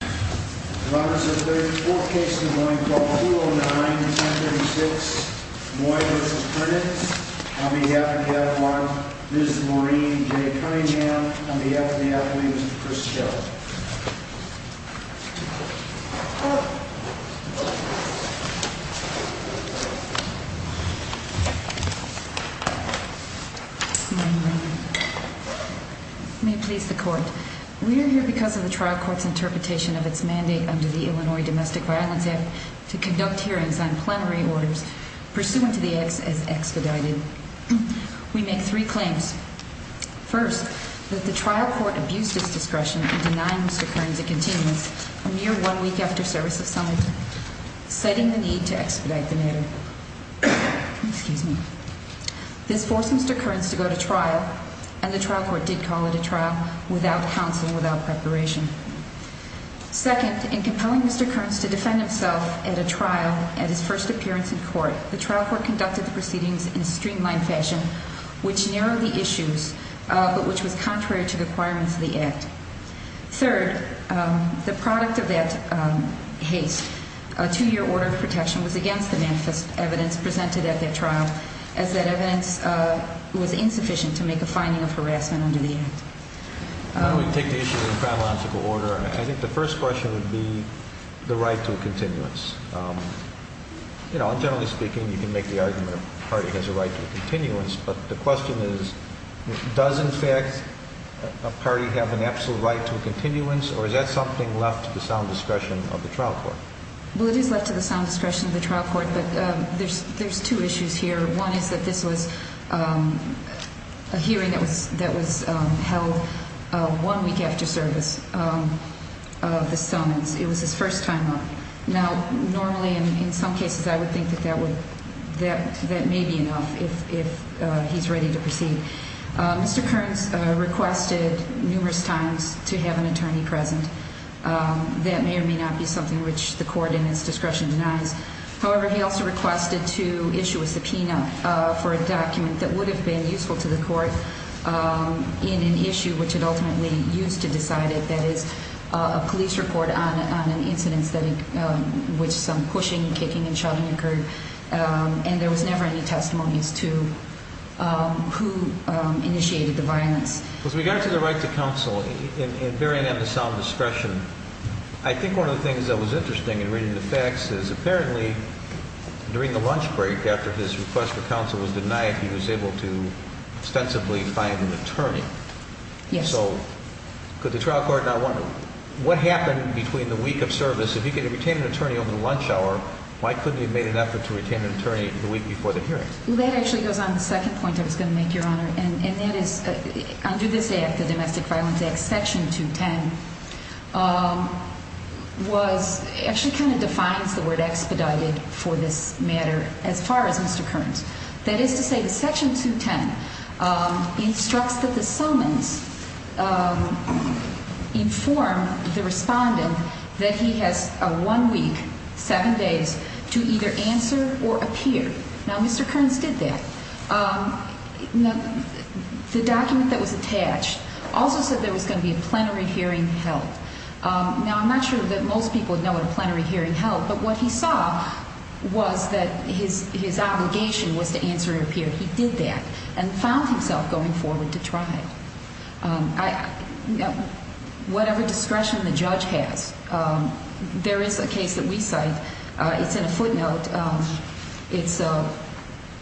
On behalf of the athlete, Mr. Chris Kelley May it please the court, we are here because of the trial court's interpretation of its mandate under the Illinois Domestic Violence Act to conduct hearings on plenary orders pursuant to the acts as expedited. We make three claims. First, that the trial court abused its discretion in denying Mr. Kerans a continuance a mere one week after service of summons, citing the need to expedite the matter. This forced Mr. Kerans to go to trial and the trial court did call it a trial without counsel without preparation. Second, in compelling Mr. Kerans to defend himself at a trial at his first appearance in court, the trial court conducted the proceedings in a streamlined fashion which narrowed the issues, but which was contrary to the requirements of the act. Third, the product of that haste, a two-year order of protection was against the manifest evidence presented at that trial as that evidence was insufficient to make a finding of harassment under the act. I would take the issue in chronological order. I think the first question would be the right to a continuance. You know, generally speaking, you can make the argument a party has a right to a continuance, but the question is, does in fact a party have an absolute right to a continuance or is that something left to the sound discretion of the trial court? Well, it is left to the sound discretion of the trial court, but there's two issues here. One is that this was a hearing that was held one week after service of the summons. It was his first time up. Now, normally, in some cases, I would think that that may be enough if he's ready to proceed. Mr. Kerans requested numerous times to have an attorney present. That may or may not be something which the court in its discretion denies. However, he also requested to issue a subpoena for a document that would have been useful to the court in an issue which it ultimately used to decide it. That is a police report on an incident which some pushing, kicking, and shoving occurred, and there was never any testimonies to who initiated the violence. With regard to the right to counsel and bearing in the sound discretion, I think one of the things that was interesting in reading the facts is apparently during the lunch break after his request for counsel was denied, he was able to ostensibly find an attorney. Yes. So could the trial court not wonder what happened between the week of service? If he could have retained an attorney over the lunch hour, why couldn't he have made an effort to retain an attorney the week before the hearing? Well, that actually goes on the second point I was going to make, Your Honor, and that is under this Act, the Domestic Violence Act, Section 210, was actually kind of defines the word expedited for this matter as far as Mr. Kearns. That is to say that Section 210 instructs that the summons inform the respondent that he has one week, seven days to either answer or appear. Now, Mr. Kearns did that. The document that was attached also said there was going to be a plenary hearing held. Now, I'm not sure that most people would know what a plenary hearing held, but what he saw was that his obligation was to answer or appear. He did that and found himself going forward to try it. Whatever discretion the judge has, there is a case that we cite, it's in a footnote, it's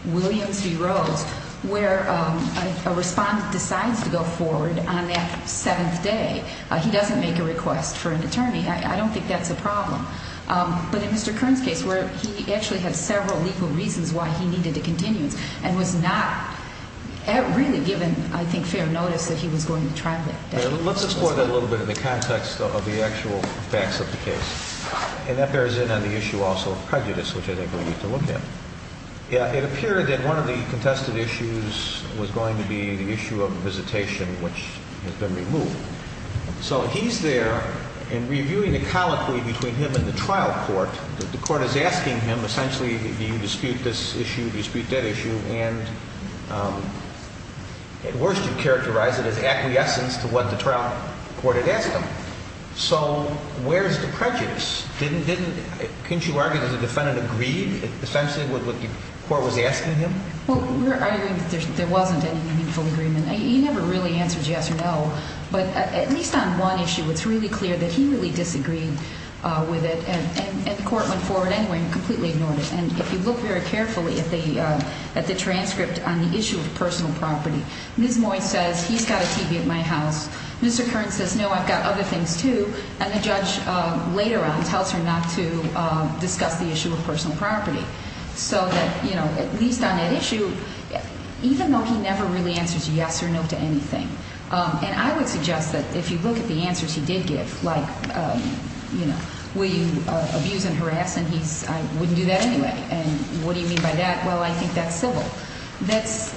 Williams v. Rhodes, where a respondent decides to go forward on that seventh day. He doesn't make a request for an attorney. I don't think that's a problem. But in Mr. Kearns' case where he actually had several legal reasons why he needed a continuance and was not really given, I think, fair notice that he was going to try that day. Let's explore that a little bit in the context of the actual facts of the case. And that bears in on the issue also of prejudice, which I think we need to look at. It appeared that one of the contested issues was going to be the issue of visitation, which has been removed. So he's there and reviewing the colloquy between him and the trial court. The court is asking him, essentially, do you dispute this issue, do you dispute that issue? And at worst you characterize it as acquiescence to what the trial court had asked him. So where's the prejudice? Didn't you argue that the defendant agreed, essentially, with what the court was asking him? Well, we're arguing that there wasn't any meaningful agreement. He never really answered yes or no. But at least on one issue, it's really clear that he really disagreed with it. And the court went forward anyway and completely ignored it. And if you look very carefully at the transcript on the issue of personal property, Ms. Moy says, he's got a TV at my house. Mr. Kern says, no, I've got other things too. And the judge later on tells her not to discuss the issue of personal property. So that, you know, at least on that issue, even though he never really answers yes or no to anything, and I would suggest that if you look at the answers he did give, like, you know, will you abuse and harass? And he's, I wouldn't do that anyway. And what do you mean by that? Well, I think that's civil. That's,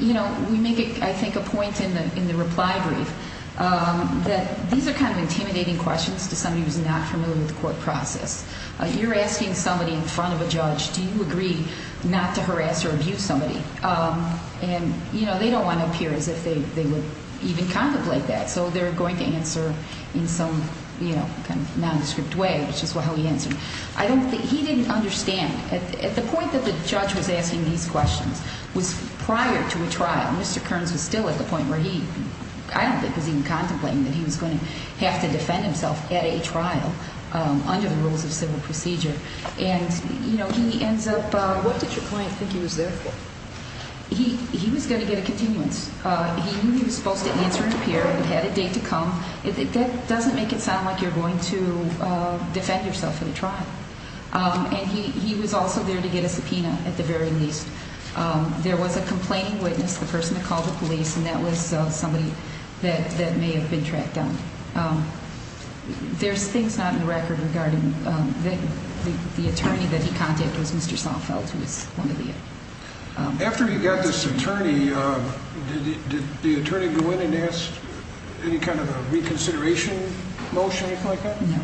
you know, we make, I think, a point in the reply brief that these are kind of intimidating questions to somebody who's not familiar with the court process. You're asking somebody in front of a judge, do you agree not to harass or abuse somebody? And, you know, they don't want to appear as if they would even contemplate that. So they're going to answer in some, you know, kind of nondescript way, which is how he answered. I don't think, he didn't understand. At the point that the judge was asking these questions was prior to a trial. Mr. Kerns was still at the point where he, I don't think, was even contemplating that he was going to have to defend himself at a trial under the rules of civil procedure. And, you know, he ends up. What did your client think he was there for? He was going to get a continuance. He knew he was supposed to answer and appear, had a date to come. That doesn't make it sound like you're going to defend yourself at a trial. And he was also there to get a subpoena at the very least. There was a complaining witness, the person that called the police and that was somebody that may have been tracked down. There's things not in the record regarding that. The attorney that he contacted was Mr. Seinfeld, who was one of the. After you got this attorney, did the attorney go in and ask any kind of a reconsideration motion or anything like that? No.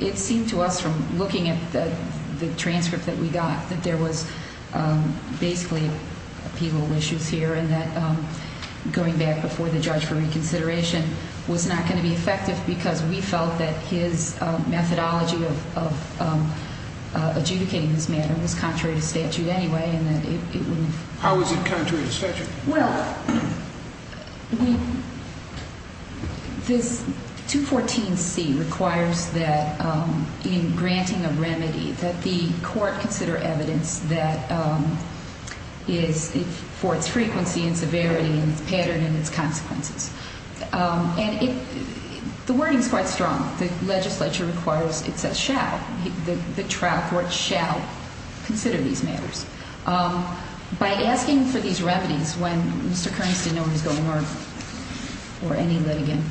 It seemed to us from looking at the transcript that we got that there was basically appeal issues here and that going back before the judge for reconsideration was not going to be effective because we felt that his methodology of adjudicating this matter was contrary to statute anyway and that it wouldn't. How was it contrary to statute? Well, this 214C requires that in granting a remedy that the court consider evidence that is for its frequency and severity and its pattern and its consequences. And the wording is quite strong. The legislature requires, it says shall, the trial court shall consider these matters. By asking for these remedies when Mr. Kearns didn't know what was going on or any litigant,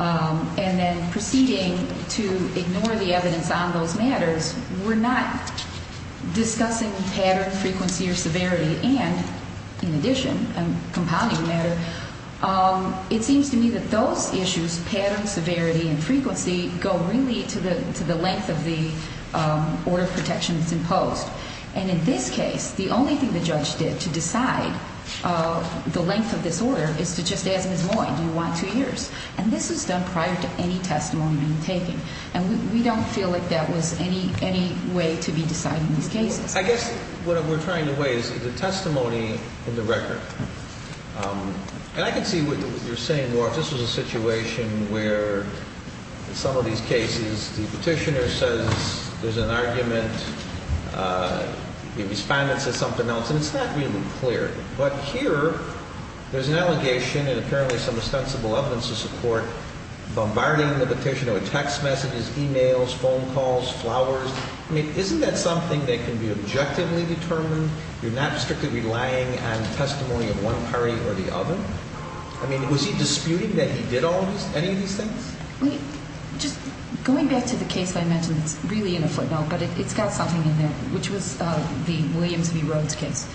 and then proceeding to ignore the evidence on those matters, we're not discussing pattern, frequency, or severity and, in addition, compounding matter. It seems to me that those issues, pattern, severity, and frequency, go really to the length of the order of protection that's imposed. And in this case, the only thing the judge did to decide the length of this order is to just ask Ms. Moy, do you want two years? And this was done prior to any testimony being taken. And we don't feel like that was any way to be decided in these cases. I guess what we're trying to weigh is the testimony in the record. And I can see what you're saying, Mark. This was a situation where in some of these cases the petitioner says there's an argument, the respondent says something else, and it's not really clear. But here, there's an allegation and apparently some ostensible evidence to support bombarding the petitioner with text messages, e-mails, phone calls, flowers. I mean, isn't that something that can be objectively determined? You're not strictly relying on testimony of one party or the other? I mean, was he disputing that he did any of these things? I mean, just going back to the case I mentioned, it's really in a footnote, but it's got something in there, which was the Williams v. Rhodes case.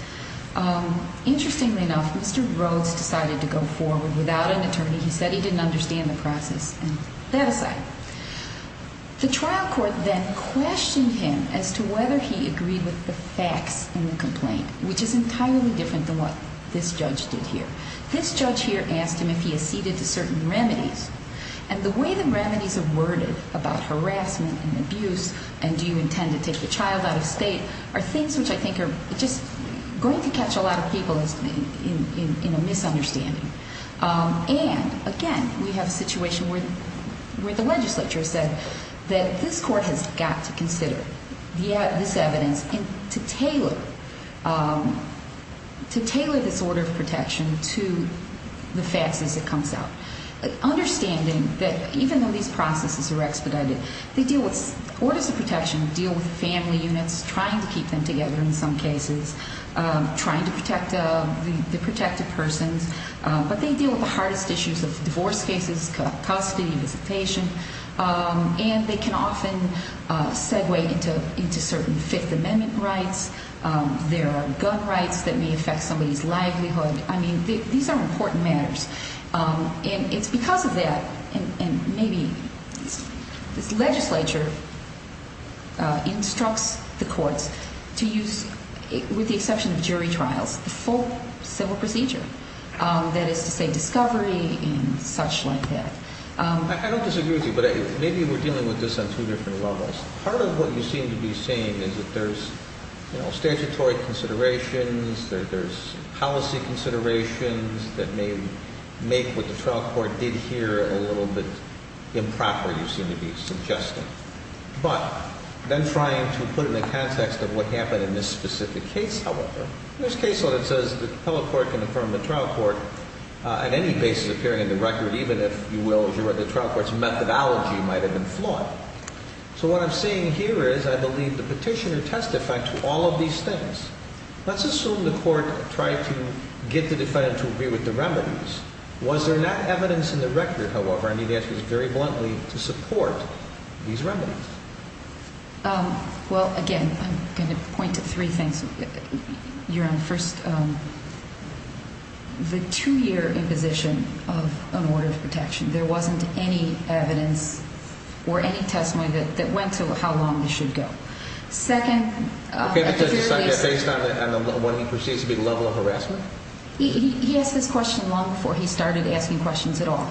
Interestingly enough, Mr. Rhodes decided to go forward without an attorney. He said he didn't understand the process. And that aside, the trial court then questioned him as to whether he agreed with the facts in the complaint, which is entirely different than what this judge did here. This judge here asked him if he acceded to certain remedies. And the way the remedies are worded about harassment and abuse, and do you intend to take a child out of state, are things which I think are just going to catch a lot of people in a misunderstanding. And again, we have a situation where the legislature said that this court has got to consider this evidence to tailor this order of protection to the facts as it comes out. Understanding that even though these processes are expedited, they deal with orders of protection, deal with family units, trying to keep them together in some cases, trying to protect the protected persons. But they deal with the hardest issues of divorce cases, custody, visitation. And they can often segue into certain Fifth Amendment rights. There are gun rights that may affect somebody's livelihood. I mean, these are important matters. And it's because of that, and maybe this legislature instructs the courts to use, with the exception of jury trials, the full civil procedure. That is to say, discovery and such like that. I don't disagree with you, but maybe we're dealing with this on two different levels. Part of what you seem to be saying is that there's statutory considerations, there's policy considerations that may make what the trial court did here a little bit improper, you seem to be suggesting. But then trying to put it in the context of what happened in this specific case, however, there's case law that says the appellate court can affirm the trial court at any basis appearing in the record, even if you will, as you read the trial court's methodology might have been flawed. So what I'm saying here is I believe the petitioner testified to all of these things. Let's assume the court tried to get the defendant to agree with the remedies. Was there not evidence in the record, however, I need to ask this very bluntly, to support these remedies? Well, again, I'm going to point to three things. You're on first. The two-year imposition of an order of protection. There wasn't any evidence or any testimony that went to how long this should go. Second... Okay, but does he cite that based on what he perceives to be the level of harassment? He asked this question long before he started asking questions at all.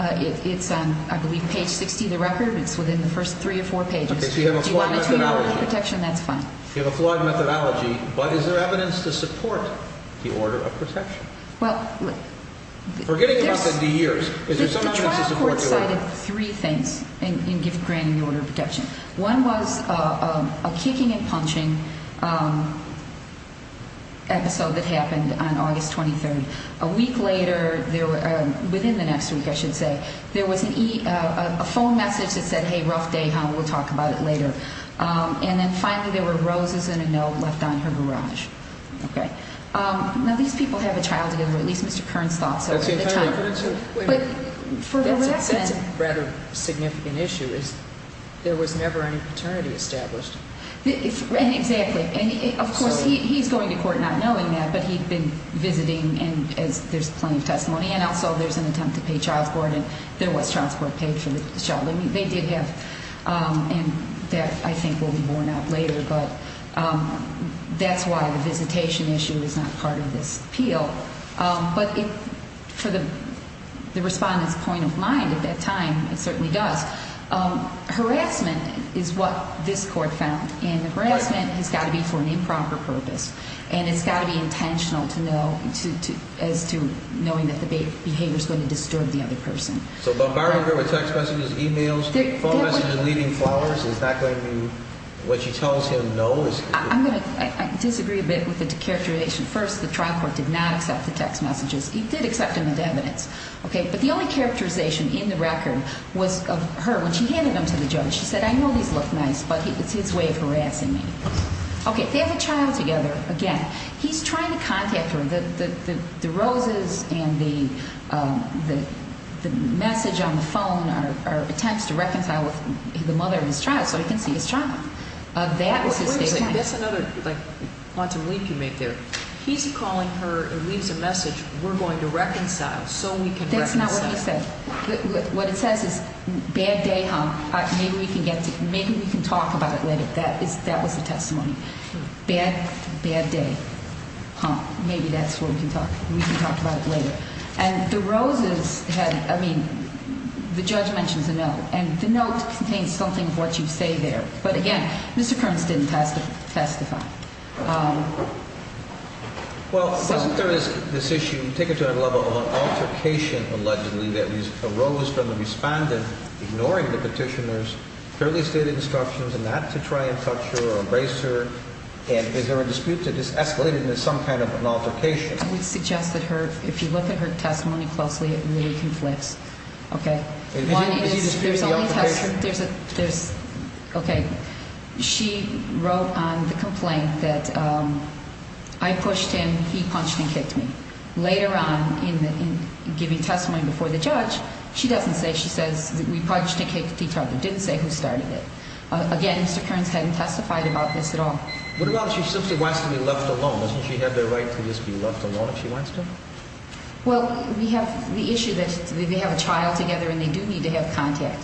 It's on, I believe, page 60 of the record. It's within the first three or four pages. Okay, so you have a flawed methodology. If you want to treat an order of protection, that's fine. You have a flawed methodology, but is there evidence to support the order of protection? Forgetting about the years, is there some evidence to support the order of protection? The trial court cited three things in granting the order of protection. One was a kicking and punching episode that happened on August 23rd. A week later, within the next week, I should say, there was a phone message that said, hey, rough day, hon, we'll talk about it later. And then finally there were roses and a note left on her garage. Now, these people have a child together, at least Mr. Kerns thought so. That's a rather significant issue. There was never any paternity established. Exactly. And, of course, he's going to court not knowing that, but he'd been visiting, and there's plenty of testimony. And also there's an attempt to pay child support, and there was child support paid for the child. I mean, they did have, and that, I think, will be worn out later, but that's why the visitation issue is not part of this appeal. But for the respondent's point of mind at that time, it certainly does. Harassment is what this court found, and harassment has got to be for an improper purpose, and it's got to be intentional as to knowing that the behavior is going to disturb the other person. So barring her with text messages, e-mails, phone messages, leaving flowers is not going to be what she tells him no is going to be? I'm going to disagree a bit with the characterization. First, the trial court did not accept the text messages. He did accept them as evidence, okay? But the only characterization in the record was of her. When she handed them to the judge, she said, I know these look nice, but it's his way of harassing me. Okay, they have a child together. Again, he's trying to contact her. The roses and the message on the phone are attempts to reconcile with the mother of his child so he can see his child. That was his statement. That's another, like, quantum leap you made there. He's calling her and leaves a message, we're going to reconcile so we can reconcile. That's not what he said. What it says is, bad day, huh? Maybe we can talk about it later. And the roses had, I mean, the judge mentions a note, and the note contains something of what you say there. But again, Mr. Kearns didn't testify. Well, wasn't there this issue, take it to another level, of an altercation, allegedly, that arose from the respondent ignoring the petitioner's fairly stated instructions and not to try to reconcile? Or embrace her? And is there a dispute that this escalated into some kind of an altercation? I would suggest that if you look at her testimony closely, it really conflicts. Okay. Is he disputing the altercation? Okay. She wrote on the complaint that I pushed him, he punched and kicked me. Later on, in giving testimony before the judge, she doesn't say, she says, we punched and kicked each other. Didn't say who started it. Again, Mr. Kearns hadn't testified about this at all. What about if she simply wants to be left alone? Doesn't she have the right to just be left alone if she wants to? Well, we have the issue that they have a trial together and they do need to have contact.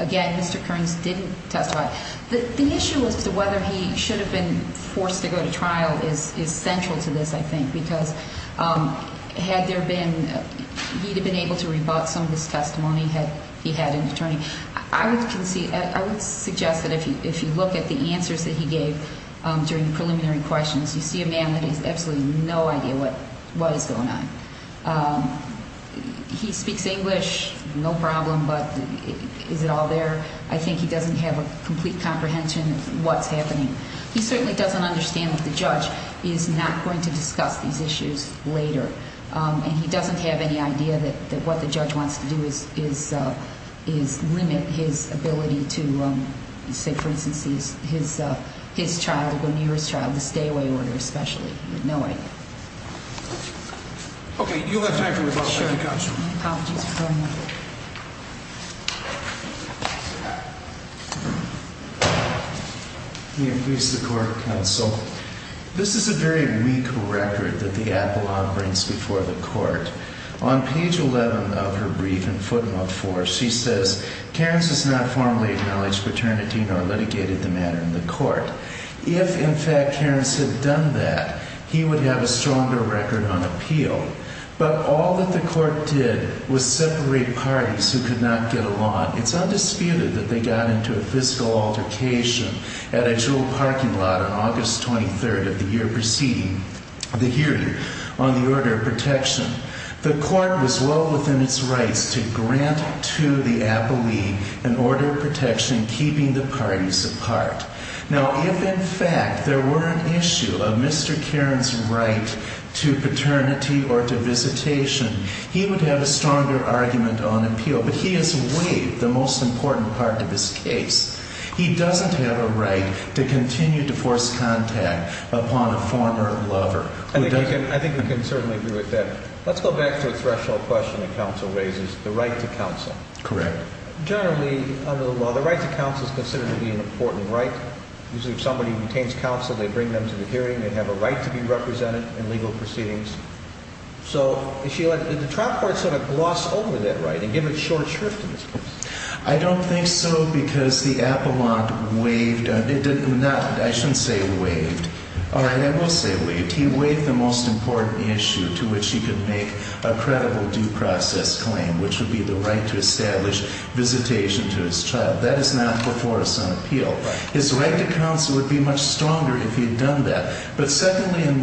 Again, Mr. Kearns didn't testify. The issue as to whether he should have been forced to go to trial is central to this, I think, because had there been, he'd have been able to rebut some of his testimony had he had an attorney. I would suggest that if you look at the answers that he gave during the preliminary questions, you see a man that has absolutely no idea what is going on. He speaks English, no problem, but is it all there? I think he doesn't have a complete comprehension of what's happening. He certainly doesn't understand that the judge is not going to discuss these issues later, and he doesn't have any idea that what the judge wants to do is limit his ability to, say, for instance, his child, to go near his child, the stay-away order especially. Okay, you'll have time for rebuttal. Thank you very much. May it please the court, counsel. This is a very weak record that the appellate brings before the court. On page 11 of her brief in footnote 4, she says, Kearns has not formally acknowledged paternity nor litigated the matter in the court. If, in fact, Kearns had done that, he would have a stronger record on appeal. But all that the court did was separate parties who could not get along. It's undisputed that they got into a fiscal altercation at a jewel parking lot on August 23rd of the year preceding the hearing on the order of protection. The court was well within its rights to grant to the appellee an order of protection keeping the parties apart. Now, if, in fact, there were an issue of Mr. Kearns' right to paternity or to visitation, he would have a stronger argument on appeal. But he has waived the most important part of his case. He doesn't have a right to continue to force contact upon a former lover. I think we can certainly agree with that. Let's go back to a threshold question that counsel raises, the right to counsel. Correct. Generally, under the law, the right to counsel is considered to be an important right. Usually, if somebody retains counsel, they bring them to the hearing. They have a right to be represented in legal proceedings. So, Sheila, did the trial court sort of gloss over that right and give it short shrift in this case? I don't think so because the appellant waived. It did not. I shouldn't say waived. All right, I will say waived. He waived the most important issue to which he could make a credible due process claim, which would be the right to establish visitation to his child. That is not before us on appeal. His right to counsel would be much stronger if he had done that. But secondly and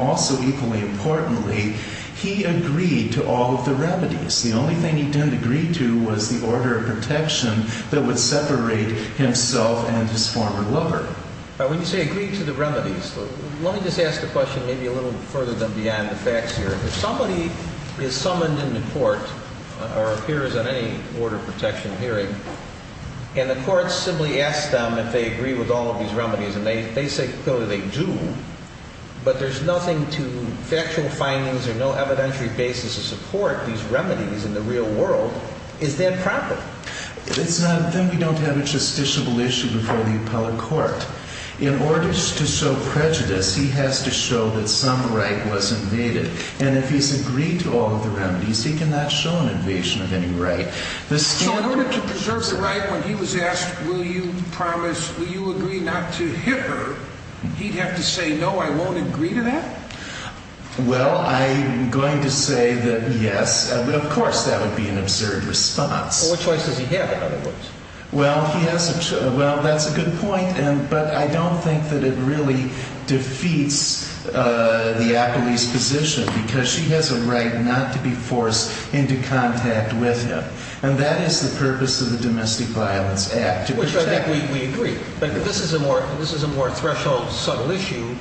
also equally importantly, he agreed to all of the remedies. The only thing he didn't agree to was the order of protection that would separate himself and his former lover. When you say agreed to the remedies, let me just ask the question maybe a little further than beyond the facts here. If somebody is summoned into court or appears on any order of protection hearing, and the court simply asks them if they agree with all of these remedies, and they say clearly they do, but there's nothing to factual findings or no evidentiary basis to support these remedies in the real world, is that proper? Then we don't have a justiciable issue before the appellate court. In order to show prejudice, he has to show that some right was invaded. And if he's agreed to all of the remedies, he cannot show an invasion of any right. So in order to preserve the right, when he was asked, will you promise, will you agree not to hit her, he'd have to say, no, I won't agree to that? Well, I'm going to say that yes, but of course that would be an absurd response. Well, what choice does he have, in other words? Well, that's a good point, but I don't think that it really defeats the appellee's position, because she has a right not to be forced into contact with him. And that is the purpose of the Domestic Violence Act. Which I think we agree. But this is a more threshold, subtle issue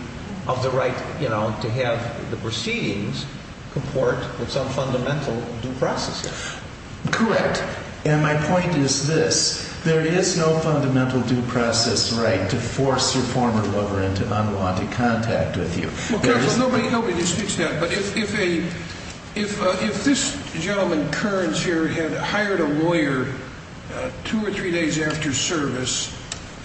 of the right to have the proceedings comport with some fundamental due process here. Correct. And my point is this. There is no fundamental due process right to force your former lover into unwanted contact with you. Well, careful, nobody speaks to that. But if this gentleman, Kearns here, had hired a lawyer two or three days after service,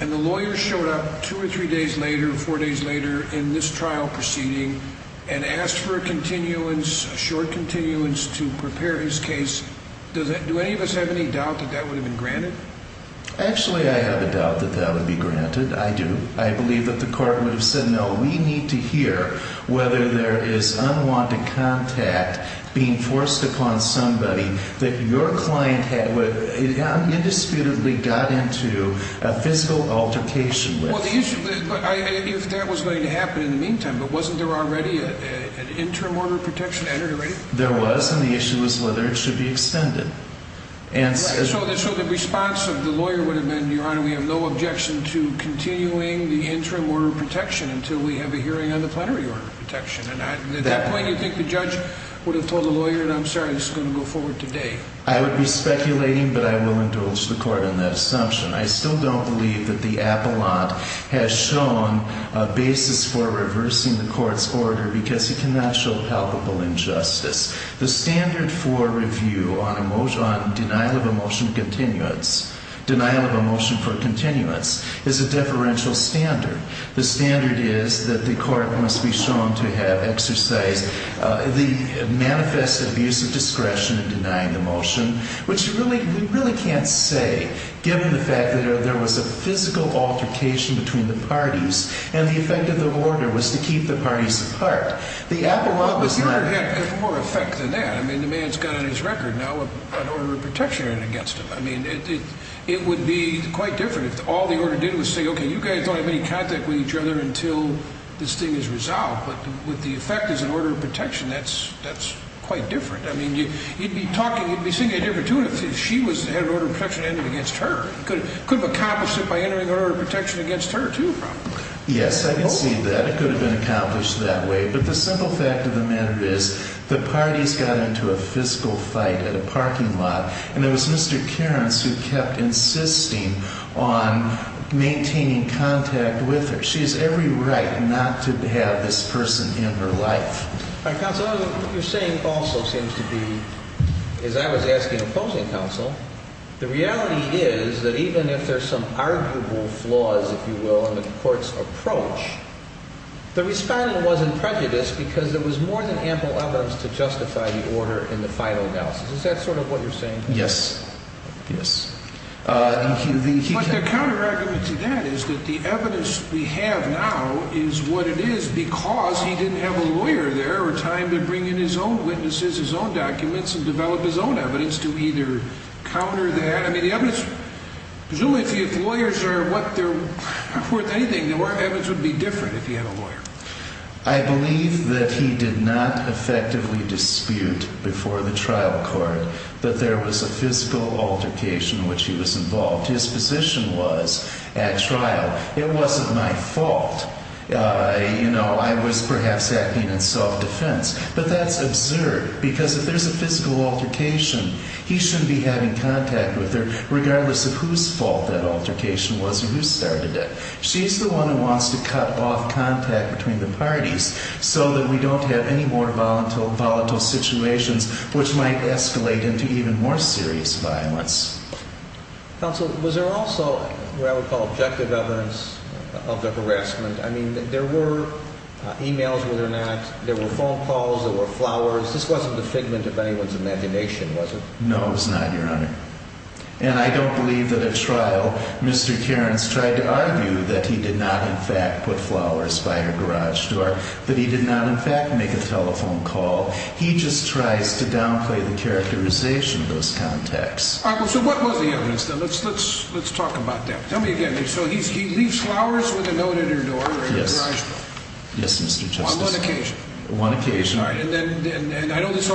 and the lawyer showed up two or three days later, four days later in this trial proceeding, and asked for a continuance, a short continuance to prepare his case, do any of us have any doubt that that would have been granted? Actually, I have a doubt that that would be granted. I do. I believe that the court would have said, no, we need to hear whether there is unwanted contact being forced upon somebody that your client indisputably got into a physical altercation with. If that was going to happen in the meantime, but wasn't there already an interim order of protection? There was, and the issue was whether it should be extended. So the response of the lawyer would have been, Your Honor, we have no objection to continuing the interim order of protection until we have a hearing on the plenary order of protection. At that point, you think the judge would have told the lawyer, I'm sorry, this is going to go forward today. I would be speculating, but I will indulge the court in that assumption. I still don't believe that the appellant has shown a basis for reversing the court's order, because he cannot show palpable injustice. The standard for review on denial of a motion for continuance is a deferential standard. The standard is that the court must be shown to have exercised the manifest abuse of discretion in denying the motion, which we really can't say, given the fact that there was a physical altercation between the parties, and the effect of the order was to keep the parties apart. The appellant was not... But Your Honor, it had more effect than that. I mean, the man's got on his record now an order of protection against him. I mean, it would be quite different if all the order did was say, okay, you guys don't have any contact with each other until this thing is resolved. But with the effect as an order of protection, that's quite different. I mean, you'd be talking, you'd be seeing a difference, too, if she had an order of protection against her. Could have accomplished it by entering an order of protection against her, too, probably. Yes, I can see that. It could have been accomplished that way. But the simple fact of the matter is the parties got into a physical fight at a parking lot, and it was Mr. Kearns who kept insisting on maintaining contact with her. She has every right not to have this person in her life. Counsel, what you're saying also seems to be, as I was asking opposing counsel, the reality is that even if there's some arguable flaws, if you will, in the court's approach, the respondent wasn't prejudiced because there was more than ample evidence to justify the order in the final analysis. Is that sort of what you're saying? Yes. Yes. But the counterargument to that is that the evidence we have now is what it is because he didn't have a lawyer there or time to bring in his own witnesses, his own documents, and develop his own evidence to either counter that. I mean, the evidence, presumably if lawyers are worth anything, the evidence would be different if he had a lawyer. I believe that he did not effectively dispute before the trial court that there was a physical altercation in which he was involved. His position was at trial, it wasn't my fault. You know, I was perhaps acting in soft defense. But that's absurd because if there's a physical altercation, he shouldn't be having contact with her, regardless of whose fault that altercation was or who started it. She's the one who wants to cut off contact between the parties so that we don't have any more volatile situations which might escalate into even more serious violence. Counsel, was there also what I would call objective evidence of the harassment? I mean, there were emails, whether or not there were phone calls, there were flowers. This wasn't the figment of anyone's imagination, was it? No, it was not, Your Honor. And I don't believe that at trial, Mr. Cairns tried to argue that he did not, in fact, put flowers by her garage door, that he did not, in fact, make a telephone call. He just tries to downplay the characterization of those contacts. All right, well, so what was the evidence, then? Let's talk about that. Tell me again. So he leaves flowers with a note at her door? Yes. Yes, Mr. Justice. On one occasion? One occasion. All right. And I know this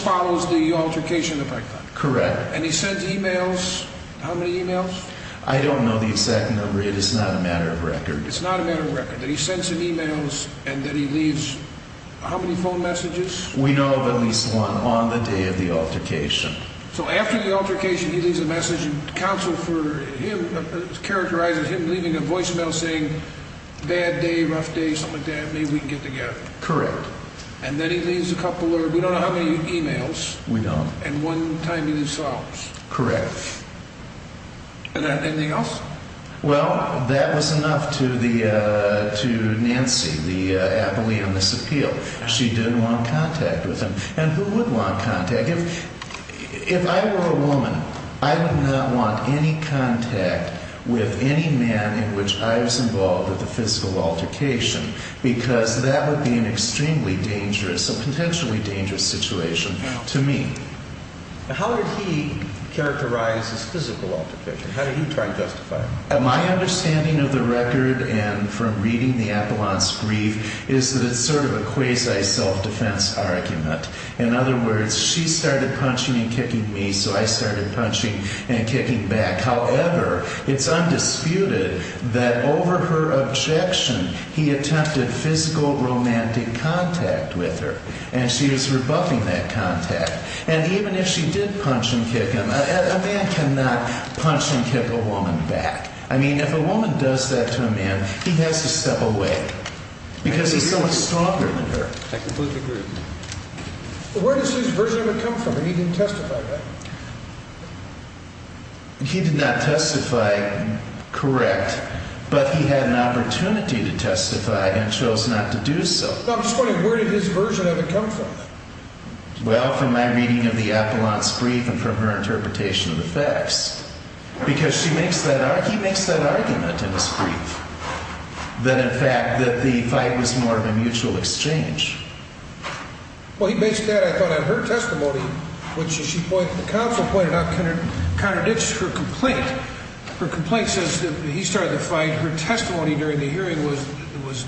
follows the altercation effect, then? Correct. And he sends emails? How many emails? I don't know the exact number. It is not a matter of record. It's not a matter of record. That he sends him emails and that he leaves how many phone messages? We know of at least one on the day of the altercation. So after the altercation, he leaves a message. Counsel, for him, characterizes him leaving a voicemail saying, bad day, rough day, something like that, maybe we can get together. Correct. And then he leaves a couple of, we don't know how many emails. We don't. And one time in his office? Correct. Anything else? Well, that was enough to Nancy, the appellee on this appeal. She didn't want contact with him. And who would want contact? If I were a woman, I would not want any contact with any man in which I was involved with a physical altercation because that would be an extremely dangerous, a potentially dangerous situation to me. How did he characterize his physical altercation? How did he try to justify it? My understanding of the record and from reading the appellant's brief is that it's sort of a quasi self-defense argument. In other words, she started punching and kicking me, so I started punching and kicking back. However, it's undisputed that over her objection, he attempted physical romantic contact with her, and she was rebuffing that contact. And even if she did punch and kick him, a man cannot punch and kick a woman back. I mean, if a woman does that to a man, he has to step away because he's so much stronger than her. I completely agree. Where does his version of it come from? He didn't testify, right? He did not testify correct, but he had an opportunity to testify and chose not to do so. No, I'm just wondering, where did his version of it come from? Well, from my reading of the appellant's brief and from her interpretation of the facts. Because he makes that argument in his brief that, in fact, that the fight was more of a mutual exchange. Well, he makes that, I thought, in her testimony, which, as the counsel pointed out, contradicts her complaint. Her complaint says that he started the fight. Her testimony during the hearing was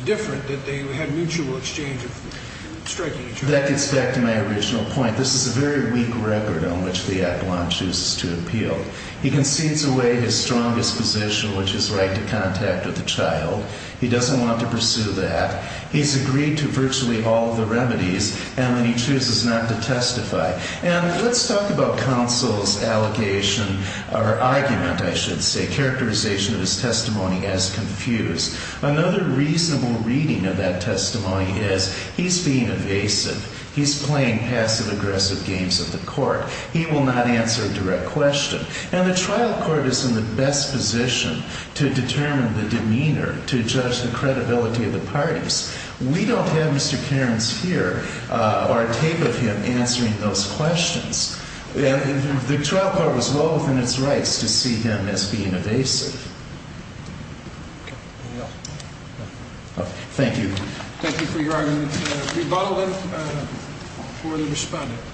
different, that they had mutual exchange of striking each other. That gets back to my original point. This is a very weak record on which the appellant chooses to appeal. He concedes away his strongest position, which is right to contact with the child. He doesn't want to pursue that. He's agreed to virtually all the remedies, and then he chooses not to testify. And let's talk about counsel's allegation, or argument, I should say, characterization of his testimony as confused. Another reasonable reading of that testimony is he's being evasive. He's playing passive-aggressive games at the court. He will not answer a direct question. And the trial court is in the best position to determine the demeanor, to judge the credibility of the parties. We don't have Mr. Cairns here, or a tape of him, answering those questions. The trial court was well within its rights to see him as being evasive. Thank you. Thank you for your argument. Rebuttal, then, for the respondent, please.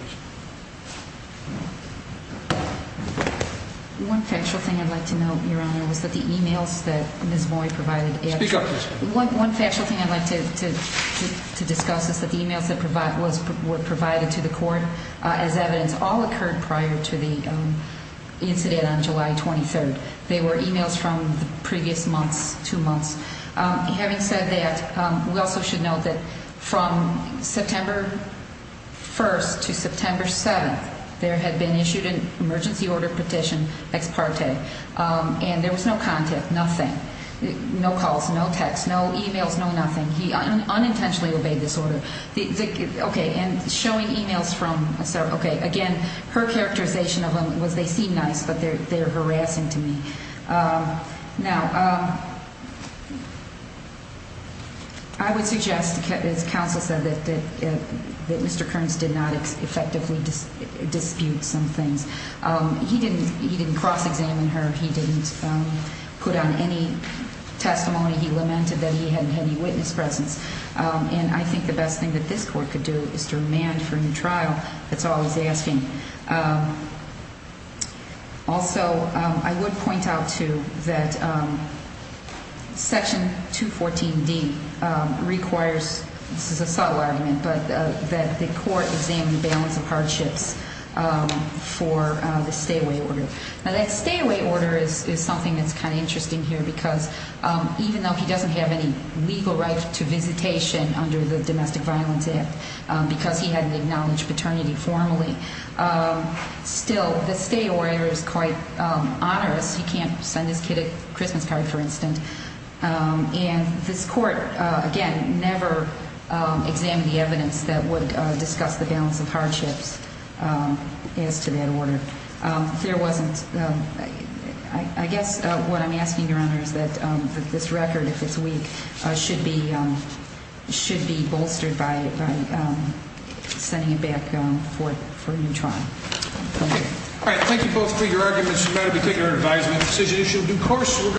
One factual thing I'd like to note, Your Honor, was that the e-mails that Ms. Moy provided... Speak up, please. One factual thing I'd like to discuss is that the e-mails that were provided to the court as evidence all occurred prior to the incident on July 23rd. They were e-mails from the previous months, two months. Having said that, we also should note that from September 1st to September 7th, there had been issued an emergency order petition, ex parte, and there was no contact, nothing. No calls, no texts, no e-mails, no nothing. He unintentionally obeyed this order. Okay, and showing e-mails from... Okay, again, her characterization of them was they seem nice, but they're harassing to me. Now... I would suggest, as counsel said, that Mr. Cairns did not effectively dispute some things. He didn't cross-examine her. He didn't put on any testimony. He lamented that he hadn't had any witness presence. And I think the best thing that this court could do is to remand for a new trial. That's all he's asking. Also, I would point out, too, that Section 214D requires... This is a subtle argument, but that the court examine the balance of hardships for the stay-away order. Now, that stay-away order is something that's kind of interesting here because even though he doesn't have any legal right to visitation under the Domestic Violence Act because he hadn't acknowledged paternity formally, still, the stay order is quite onerous. He can't send his kid a Christmas card, for instance. And this court, again, never examined the evidence that would discuss the balance of hardships as to that order. There wasn't... I guess what I'm asking, Your Honor, is that this record, if it's weak, should be bolstered by sending it back for a new trial. Thank you. All right, thank you both for your arguments. We're going to be taking our advisement. This is an issue of due course.